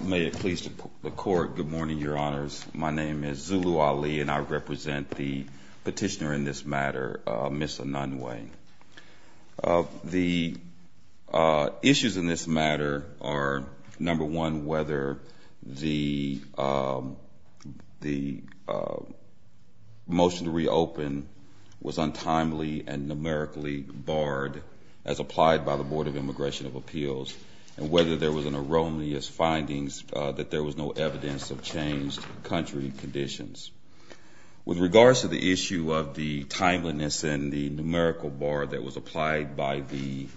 May it please the Court, good morning, Your Honors. My name is Zulu Ali and I represent the petitioner in this matter, Ms. Enunwe. The issues in this matter are, number one, whether the motion to reopen was untimely and numerically barred as applied by the Board of Immigration of Appeals and whether there was an erroneous findings that there was no evidence of changed country conditions. With regards to the issue of the timeliness and the numerical bar that was applied by the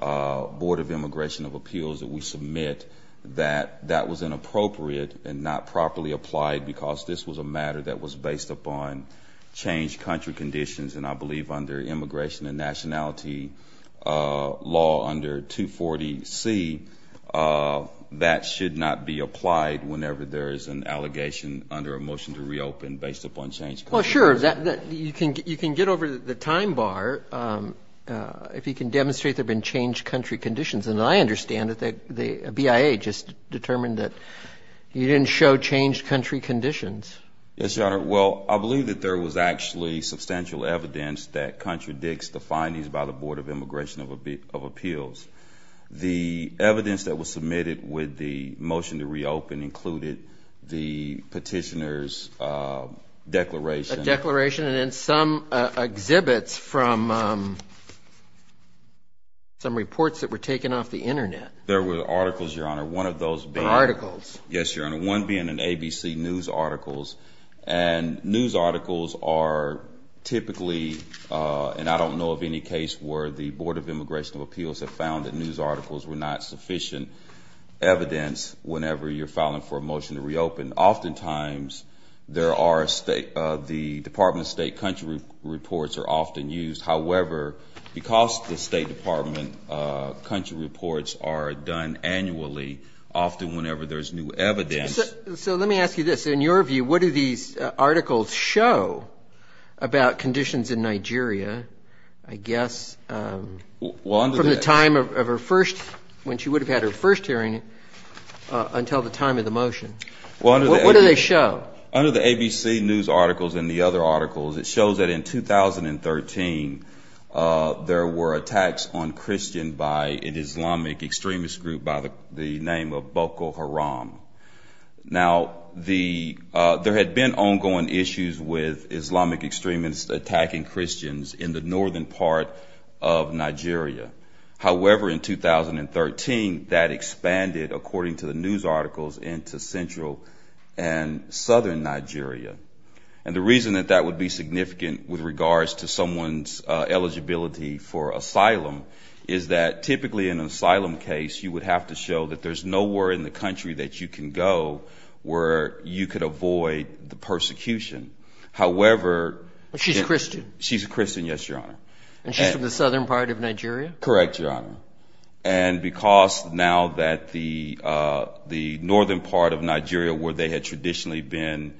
Board of Immigration of Appeals that we submit that that was inappropriate and not properly applied because this was a matter that was based upon changed country conditions and I believe under immigration and nationality law under 240C, that should not be applied whenever there is an allegation under a motion to reopen based upon changed country conditions. Well, sure, you can get over the time bar if you can demonstrate there have been changed country conditions and I understand that the BIA just determined that you didn't show changed country conditions. Yes, Your Honor. Well, I believe that there was actually substantial evidence that contradicts the findings by the Board of Immigration of Appeals. The evidence that was submitted with the motion to reopen included the petitioner's declaration. A declaration and then some exhibits from some reports that were taken off the internet. There were articles, Your Honor, one of those being. Articles. Yes, Your Honor. One being an ABC news articles and news articles are where the Board of Immigration of Appeals have found that news articles were not sufficient evidence whenever you're filing for a motion to reopen. Oftentimes, there are the Department of State country reports are often used. However, because the State Department country reports are done annually, often whenever there's new evidence. So let me ask you this. In your opinion, from the time of her first, when she would have had her first hearing until the time of the motion, what do they show? Under the ABC news articles and the other articles, it shows that in 2013, there were attacks on Christian by an Islamic extremist group by the name of Boko Haram. Now, there had been ongoing issues with Islamic extremists attacking Christians in the northern part of Nigeria. However, in 2013, that expanded, according to the news articles, into central and southern Nigeria. And the reason that that would be significant with regards to someone's eligibility for asylum is that typically in an asylum case, you would have to show that there's nowhere in the country that you can go where you could avoid the persecution. However, she's a Christian. She's a Christian, yes, Your Honor. And she's from the southern part of Nigeria? Correct, Your Honor. And because now that the northern part of Nigeria where they had traditionally been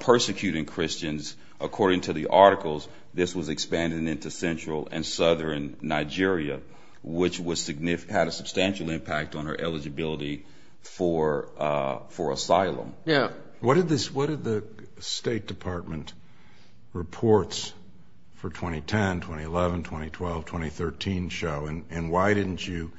persecuting Christians, according to the articles, this was expanding into central and southern Nigeria, which had a substantial impact on her eligibility for asylum. Yeah. What did the State Department reports for 2010, 2011, 2012, 2013 show? And why didn't you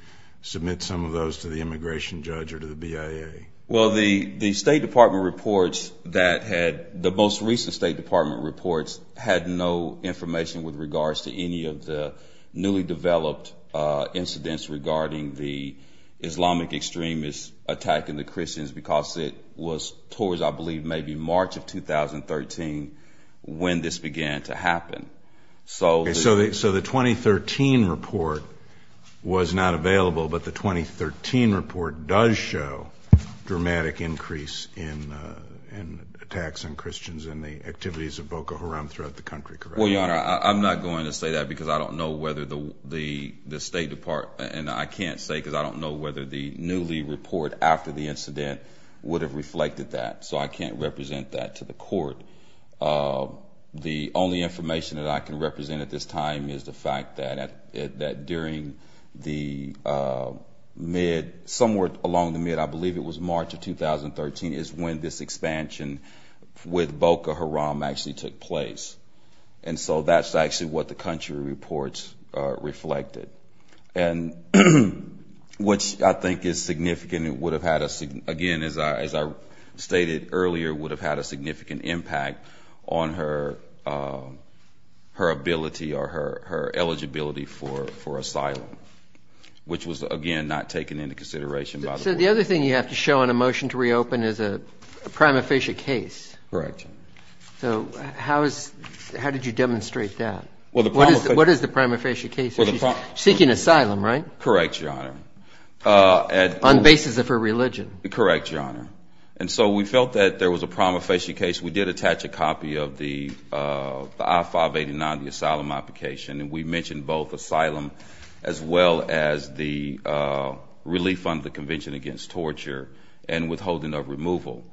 submit some of those to the immigration judge or to the BIA? Well, the State Department reports that had the most recent State Department reports had no information with regards to any of the newly developed incidents regarding the Islamic extremists attacking the Christians because it was towards, I believe, maybe March of 2013 when this began to happen. So the 2013 report was not available, but the 2013 report does show dramatic increase in attacks on Christians and the activities of Boko Haram throughout the country, correct? Well, Your Honor, I'm not going to say that because I don't know whether the State Department, and I can't say because I don't know whether the newly report after the incident would have reflected that. So I can't represent that to the court. The only information that I can represent at this time is the fact that during the mid, somewhere along the mid, I believe it was March of 2013, is when this reflected. And which I think is significant. It would have had, again, as I stated earlier, would have had a significant impact on her ability or her eligibility for asylum, which was, again, not taken into consideration by the court. So the other thing you have to show in a motion to reopen is a prima facie case. Correct. So how did you demonstrate that? What is the prima facie case? She's seeking asylum, right? Correct, Your Honor. On basis of her religion. Correct, Your Honor. And so we felt that there was a prima facie case. We did attach a copy of the I-589, the asylum application, and we mentioned both asylum as well as the relief under the Convention Against Torture and withholding of removal.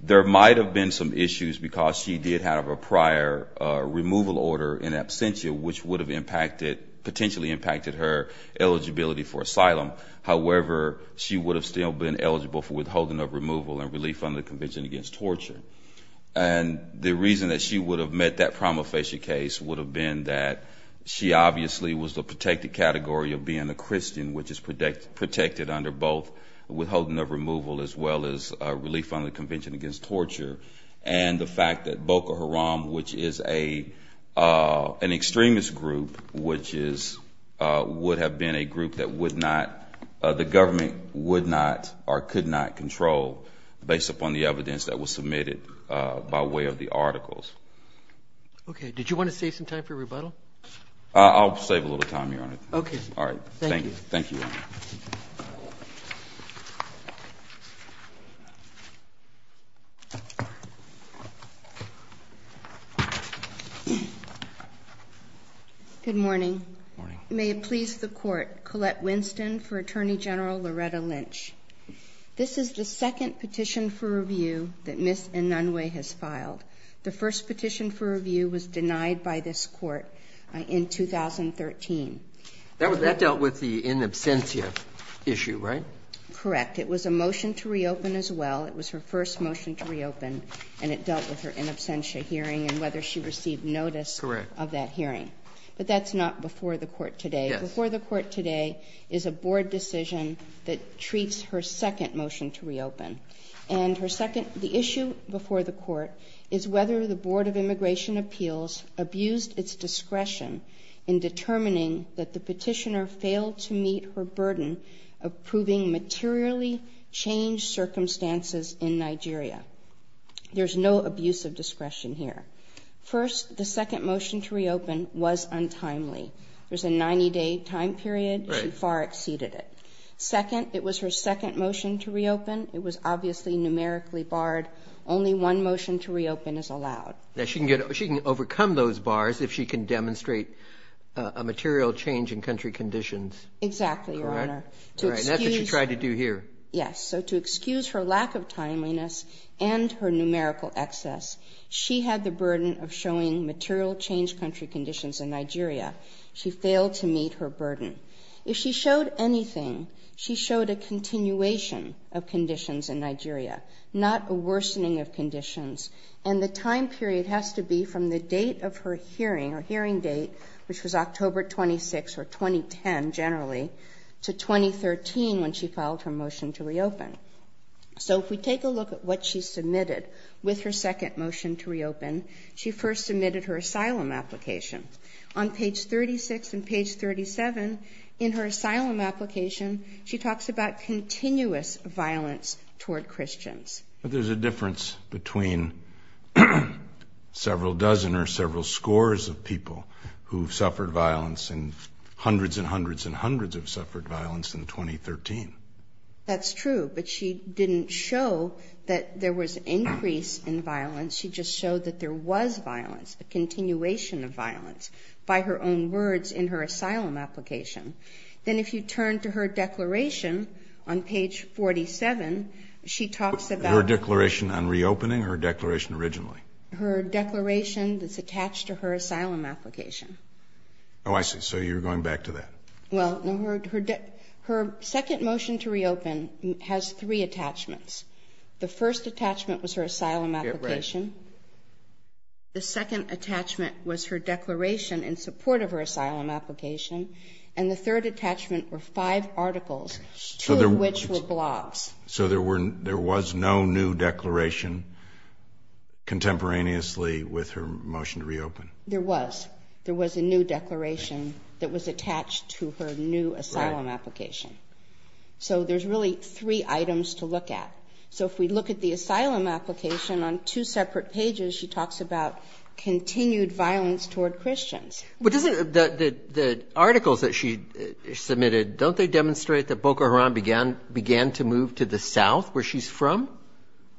There might have been some issues because she did have a prior removal order in absentia, which would have impacted, potentially impacted her eligibility for asylum. However, she would have still been eligible for withholding of removal and relief under the Convention Against Torture. And the reason that she would have met that prima facie case would have been that she obviously was the protected category of being a Christian, which is protected under both withholding of removal as well as relief under the Convention Against Torture, and the fact that Boko Haram, which is an extremist group, which would have been a group that would not, the government would not or could not control based upon the evidence that was submitted by way of the articles. Okay. Did you want to save some time for rebuttal? I'll save a little time, Your Honor. Okay. All right. Thank you. Thank you, Your Honor. Good morning. Good morning. May it please the Court, Colette Winston for Attorney General Loretta Lynch. This is the second petition for review that Ms. Inunue has filed. The first petition for review was denied by this Court in 2013. That dealt with the in absentia issue, right? Correct. It was a motion to reopen as well. It was her first motion to reopen, and it dealt with her in absentia hearing and whether she received notice of that hearing. Correct. But that's not before the Court today. Yes. And her second, the issue before the Court is whether the Board of Immigration Appeals abused its discretion in determining that the petitioner failed to meet her burden of proving materially changed circumstances in Nigeria. There's no abuse of discretion here. First, the second motion to reopen was untimely. There's a 90-day time period. Right. Second, it was her second motion to reopen. It was obviously numerically barred. Only one motion to reopen is allowed. Now, she can overcome those bars if she can demonstrate a material change in country conditions. Exactly, Your Honor. Correct. That's what she tried to do here. Yes. So to excuse her lack of timeliness and her numerical excess, she had the burden of showing material changed country conditions in Nigeria. She failed to meet her bar. If she showed anything, she showed a continuation of conditions in Nigeria, not a worsening of conditions. And the time period has to be from the date of her hearing or hearing date, which was October 26 or 2010 generally, to 2013 when she filed her motion to reopen. So if we take a look at what she submitted with her second motion to reopen, she first submitted her asylum application. On page 36 and page 37 in her asylum application, she talks about continuous violence toward Christians. But there's a difference between several dozen or several scores of people who've suffered violence and hundreds and hundreds and hundreds have suffered violence in 2013. That's true, but she didn't show that there was increase in violence. She just showed that there was violence, a continuation of violence, by her own words in her asylum application. Then if you turn to her declaration on page 47, she talks about her declaration on reopening, her declaration originally. Her declaration that's attached to her asylum application. Oh, I see. So you're going back to that. Well, no. Her second motion to reopen has three attachments. The first attachment was her asylum application. The second attachment was her declaration in support of her asylum application. And the third attachment were five articles, two of which were blogs. So there was no new declaration contemporaneously with her motion to reopen? There was. There was a new declaration that was attached to her new asylum application. So there's really three items to look at. So if we look at the asylum application on two separate pages, she talks about continued violence toward Christians. But the articles that she submitted, don't they demonstrate that Boko Haram began to move to the south, where she's from?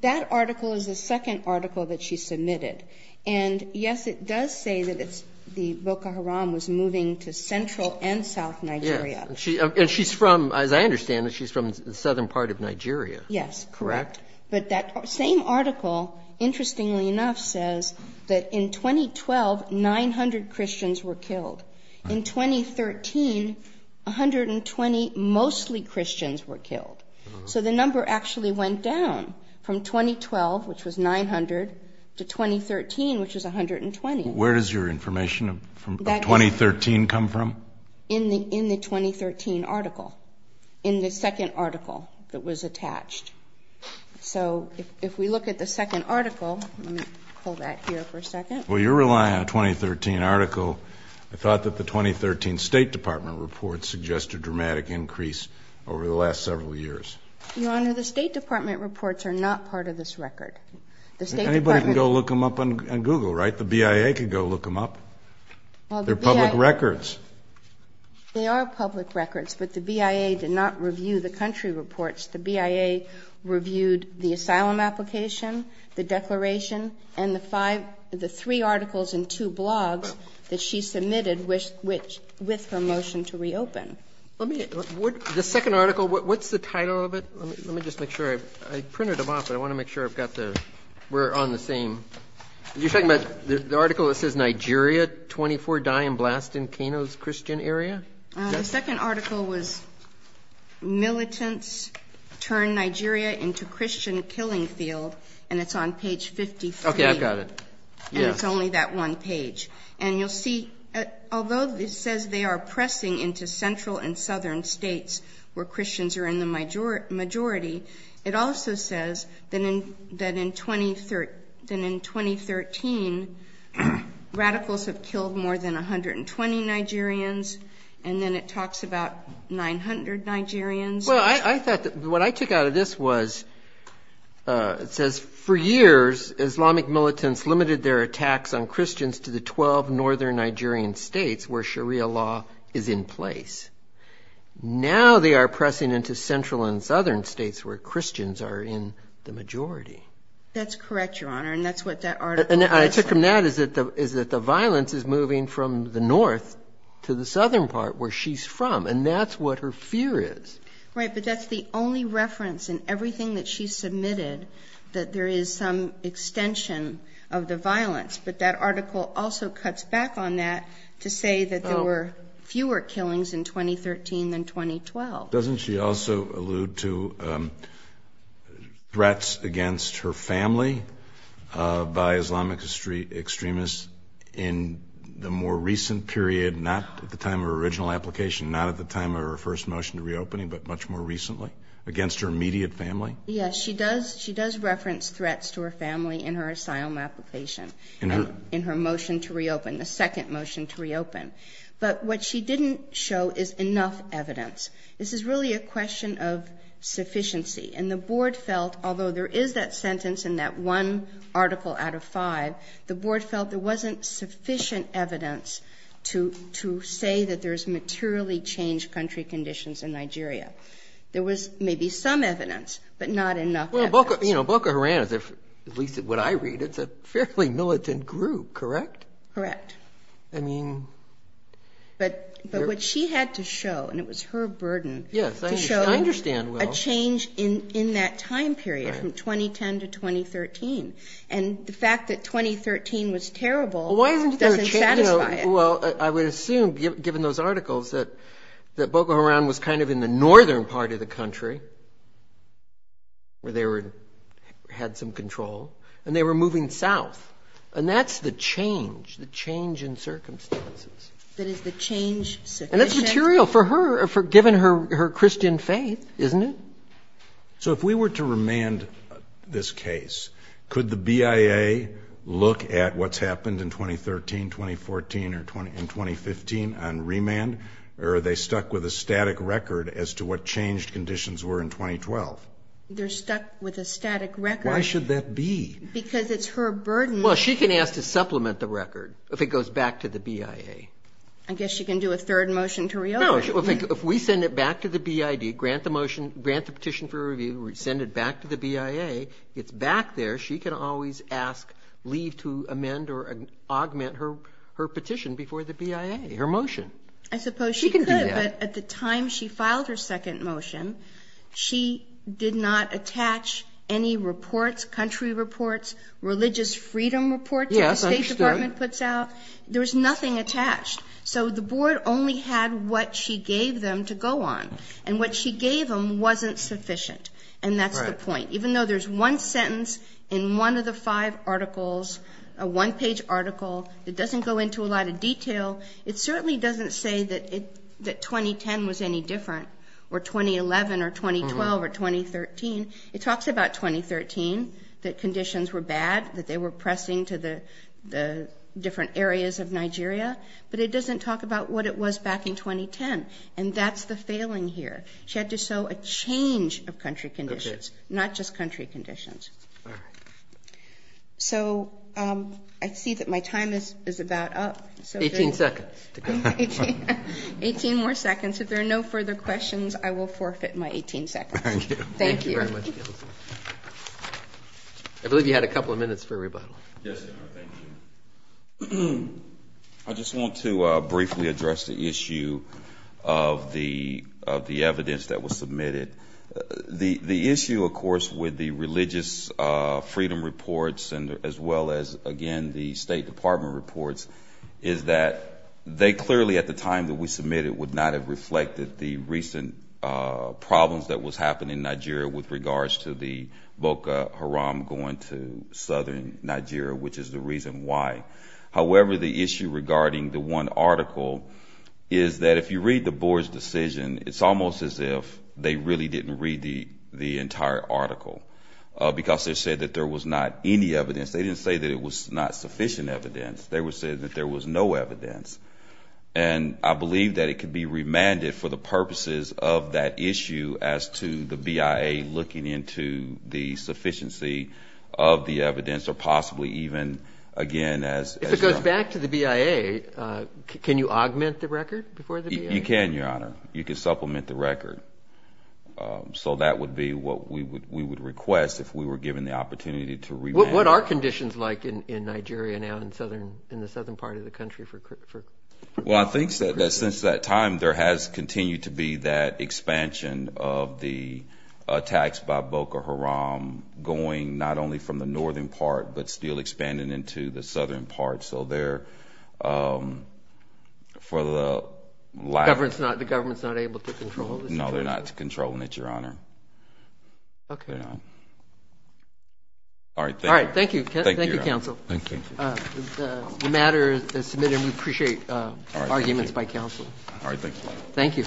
That article is the second article that she submitted. And, yes, it does say that Boko Haram was moving to central and south Nigeria. And she's from, as I understand it, she's from the southern part of Nigeria. Yes, correct. But that same article, interestingly enough, says that in 2012, 900 Christians were killed. In 2013, 120 mostly Christians were killed. So the number actually went down from 2012, which was 900, to 2013, which was 120. Where does your information of 2013 come from? In the 2013 article, in the second article that was attached. So if we look at the second article, let me pull that here for a second. Well, you're relying on a 2013 article. I thought that the 2013 State Department report suggested dramatic increase over the last several years. Your Honor, the State Department reports are not part of this record. Anybody can go look them up on Google, right? The BIA can go look them up. They're public records. They are public records, but the BIA did not review the country reports. The BIA reviewed the asylum application, the declaration, and the five, the three articles and two blogs that she submitted with her motion to reopen. The second article, what's the title of it? Let me just make sure. I printed them off, but I want to make sure I've got the, we're on the same. You're talking about the article that says Nigeria, 24 die and blast in Keno's Christian area? The second article was militants turn Nigeria into Christian killing field, and it's on page 53. Okay, I've got it. And it's only that one page. And you'll see, although it says they are pressing into central and southern states where Christians are in the majority. That's correct, Your Honor. And that's what that article says. And I took from that is that the violence is moving from the north to the southern part where she's from, and that's what her fear is. Right, but that's the only reference in everything that she submitted, that there is some extension of the violence. But that article also cuts back on that to say that there were fewer killings in 2013 than 2012. Doesn't she also allude to threats against her family by Islamic extremists in the more recent period, not at the time of her original application, not at the time of her first motion to reopening, but much more recently, against her immediate family? Yes, she does reference threats to her family in her asylum application, in her motion to reopen, the second motion to reopen. But what she didn't show is enough evidence. This is really a question of sufficiency. And the Board felt, although there is that sentence in that one article out of five, the Board felt there wasn't sufficient evidence to say that there's materially changed country conditions in Nigeria. There was maybe some evidence, but not enough evidence. Well, Boko Haram, at least what I read, it's a fairly militant group, correct? Correct. But what she had to show, and it was her burden, to show a change in that time period, from 2010 to 2013. And the fact that 2013 was terrible doesn't satisfy it. Well, I would assume, given those articles, that Boko Haram was kind of in the northern part of the country, where they had some control, and they were moving south. And that's the change, the change in circumstances. That is the change sufficient. And that's material for her, given her Christian faith, isn't it? So if we were to remand this case, could the BIA look at what's happened in 2013, 2014, and 2015 on remand, or are they stuck with a static record as to what changed conditions were in 2012? They're stuck with a static record. Why should that be? Because it's her burden. Well, she can ask to supplement the record if it goes back to the BIA. I guess she can do a third motion to reopen. No. If we send it back to the BID, grant the motion, grant the petition for review, send it back to the BIA, it's back there. She can always ask, leave to amend or augment her petition before the BIA, her motion. I suppose she could. She can do that. But at the time she filed her second motion, she did not attach any reports, country reports, religious freedom reports that the State Department puts out. Yes, I understood. There was nothing attached. So the board only had what she gave them to go on. And what she gave them wasn't sufficient. And that's the point. Even though there's one sentence in one of the five articles, a one-page article, that doesn't go into a lot of detail, it certainly doesn't say that 2010 was any different, or 2011, or 2012, or 2013. It talks about 2013, that conditions were bad, that they were pressing to the different areas of Nigeria. But it doesn't talk about what it was back in 2010. And that's the failing here. She had to show a change of country conditions, not just country conditions. All right. So I see that my time is about up. Eighteen seconds to go. Eighteen more seconds. If there are no further questions, I will forfeit my 18 seconds. Thank you. Thank you very much, Counsel. I believe you had a couple of minutes for rebuttal. Yes, Your Honor. Thank you. I just want to briefly address the issue of the evidence that was submitted. The issue, of course, with the religious freedom reports, as well as, again, the State Department reports, is that they clearly, at the time that we submitted, would not have reflected the recent problems that was happening in Nigeria with regards to the Boko Haram going to southern Nigeria, which is the reason why. However, the issue regarding the one article is that if you read the board's decision, it's almost as if they really didn't read the entire article, because they said that there was not any evidence. They didn't say that it was not sufficient evidence. They said that there was no evidence. And I believe that it could be remanded for the purposes of that issue as to the BIA looking into the sufficiency of the evidence, or possibly even, again, as you know. If it goes back to the BIA, can you augment the record before the BIA? You can, Your Honor. You can supplement the record. So that would be what we would request if we were given the opportunity to remand. What are conditions like in Nigeria now in the southern part of the country? Well, I think that since that time there has continued to be that expansion of the attacks by Boko Haram going not only from the northern part, but still expanding into the southern part. So they're, for the lack of— The government's not able to control the situation? No, they're not controlling it, Your Honor. Okay. All right. Thank you. All right. Thank you. Thank you, counsel. Thank you. The matter is submitted. We appreciate arguments by counsel. All right. Thank you.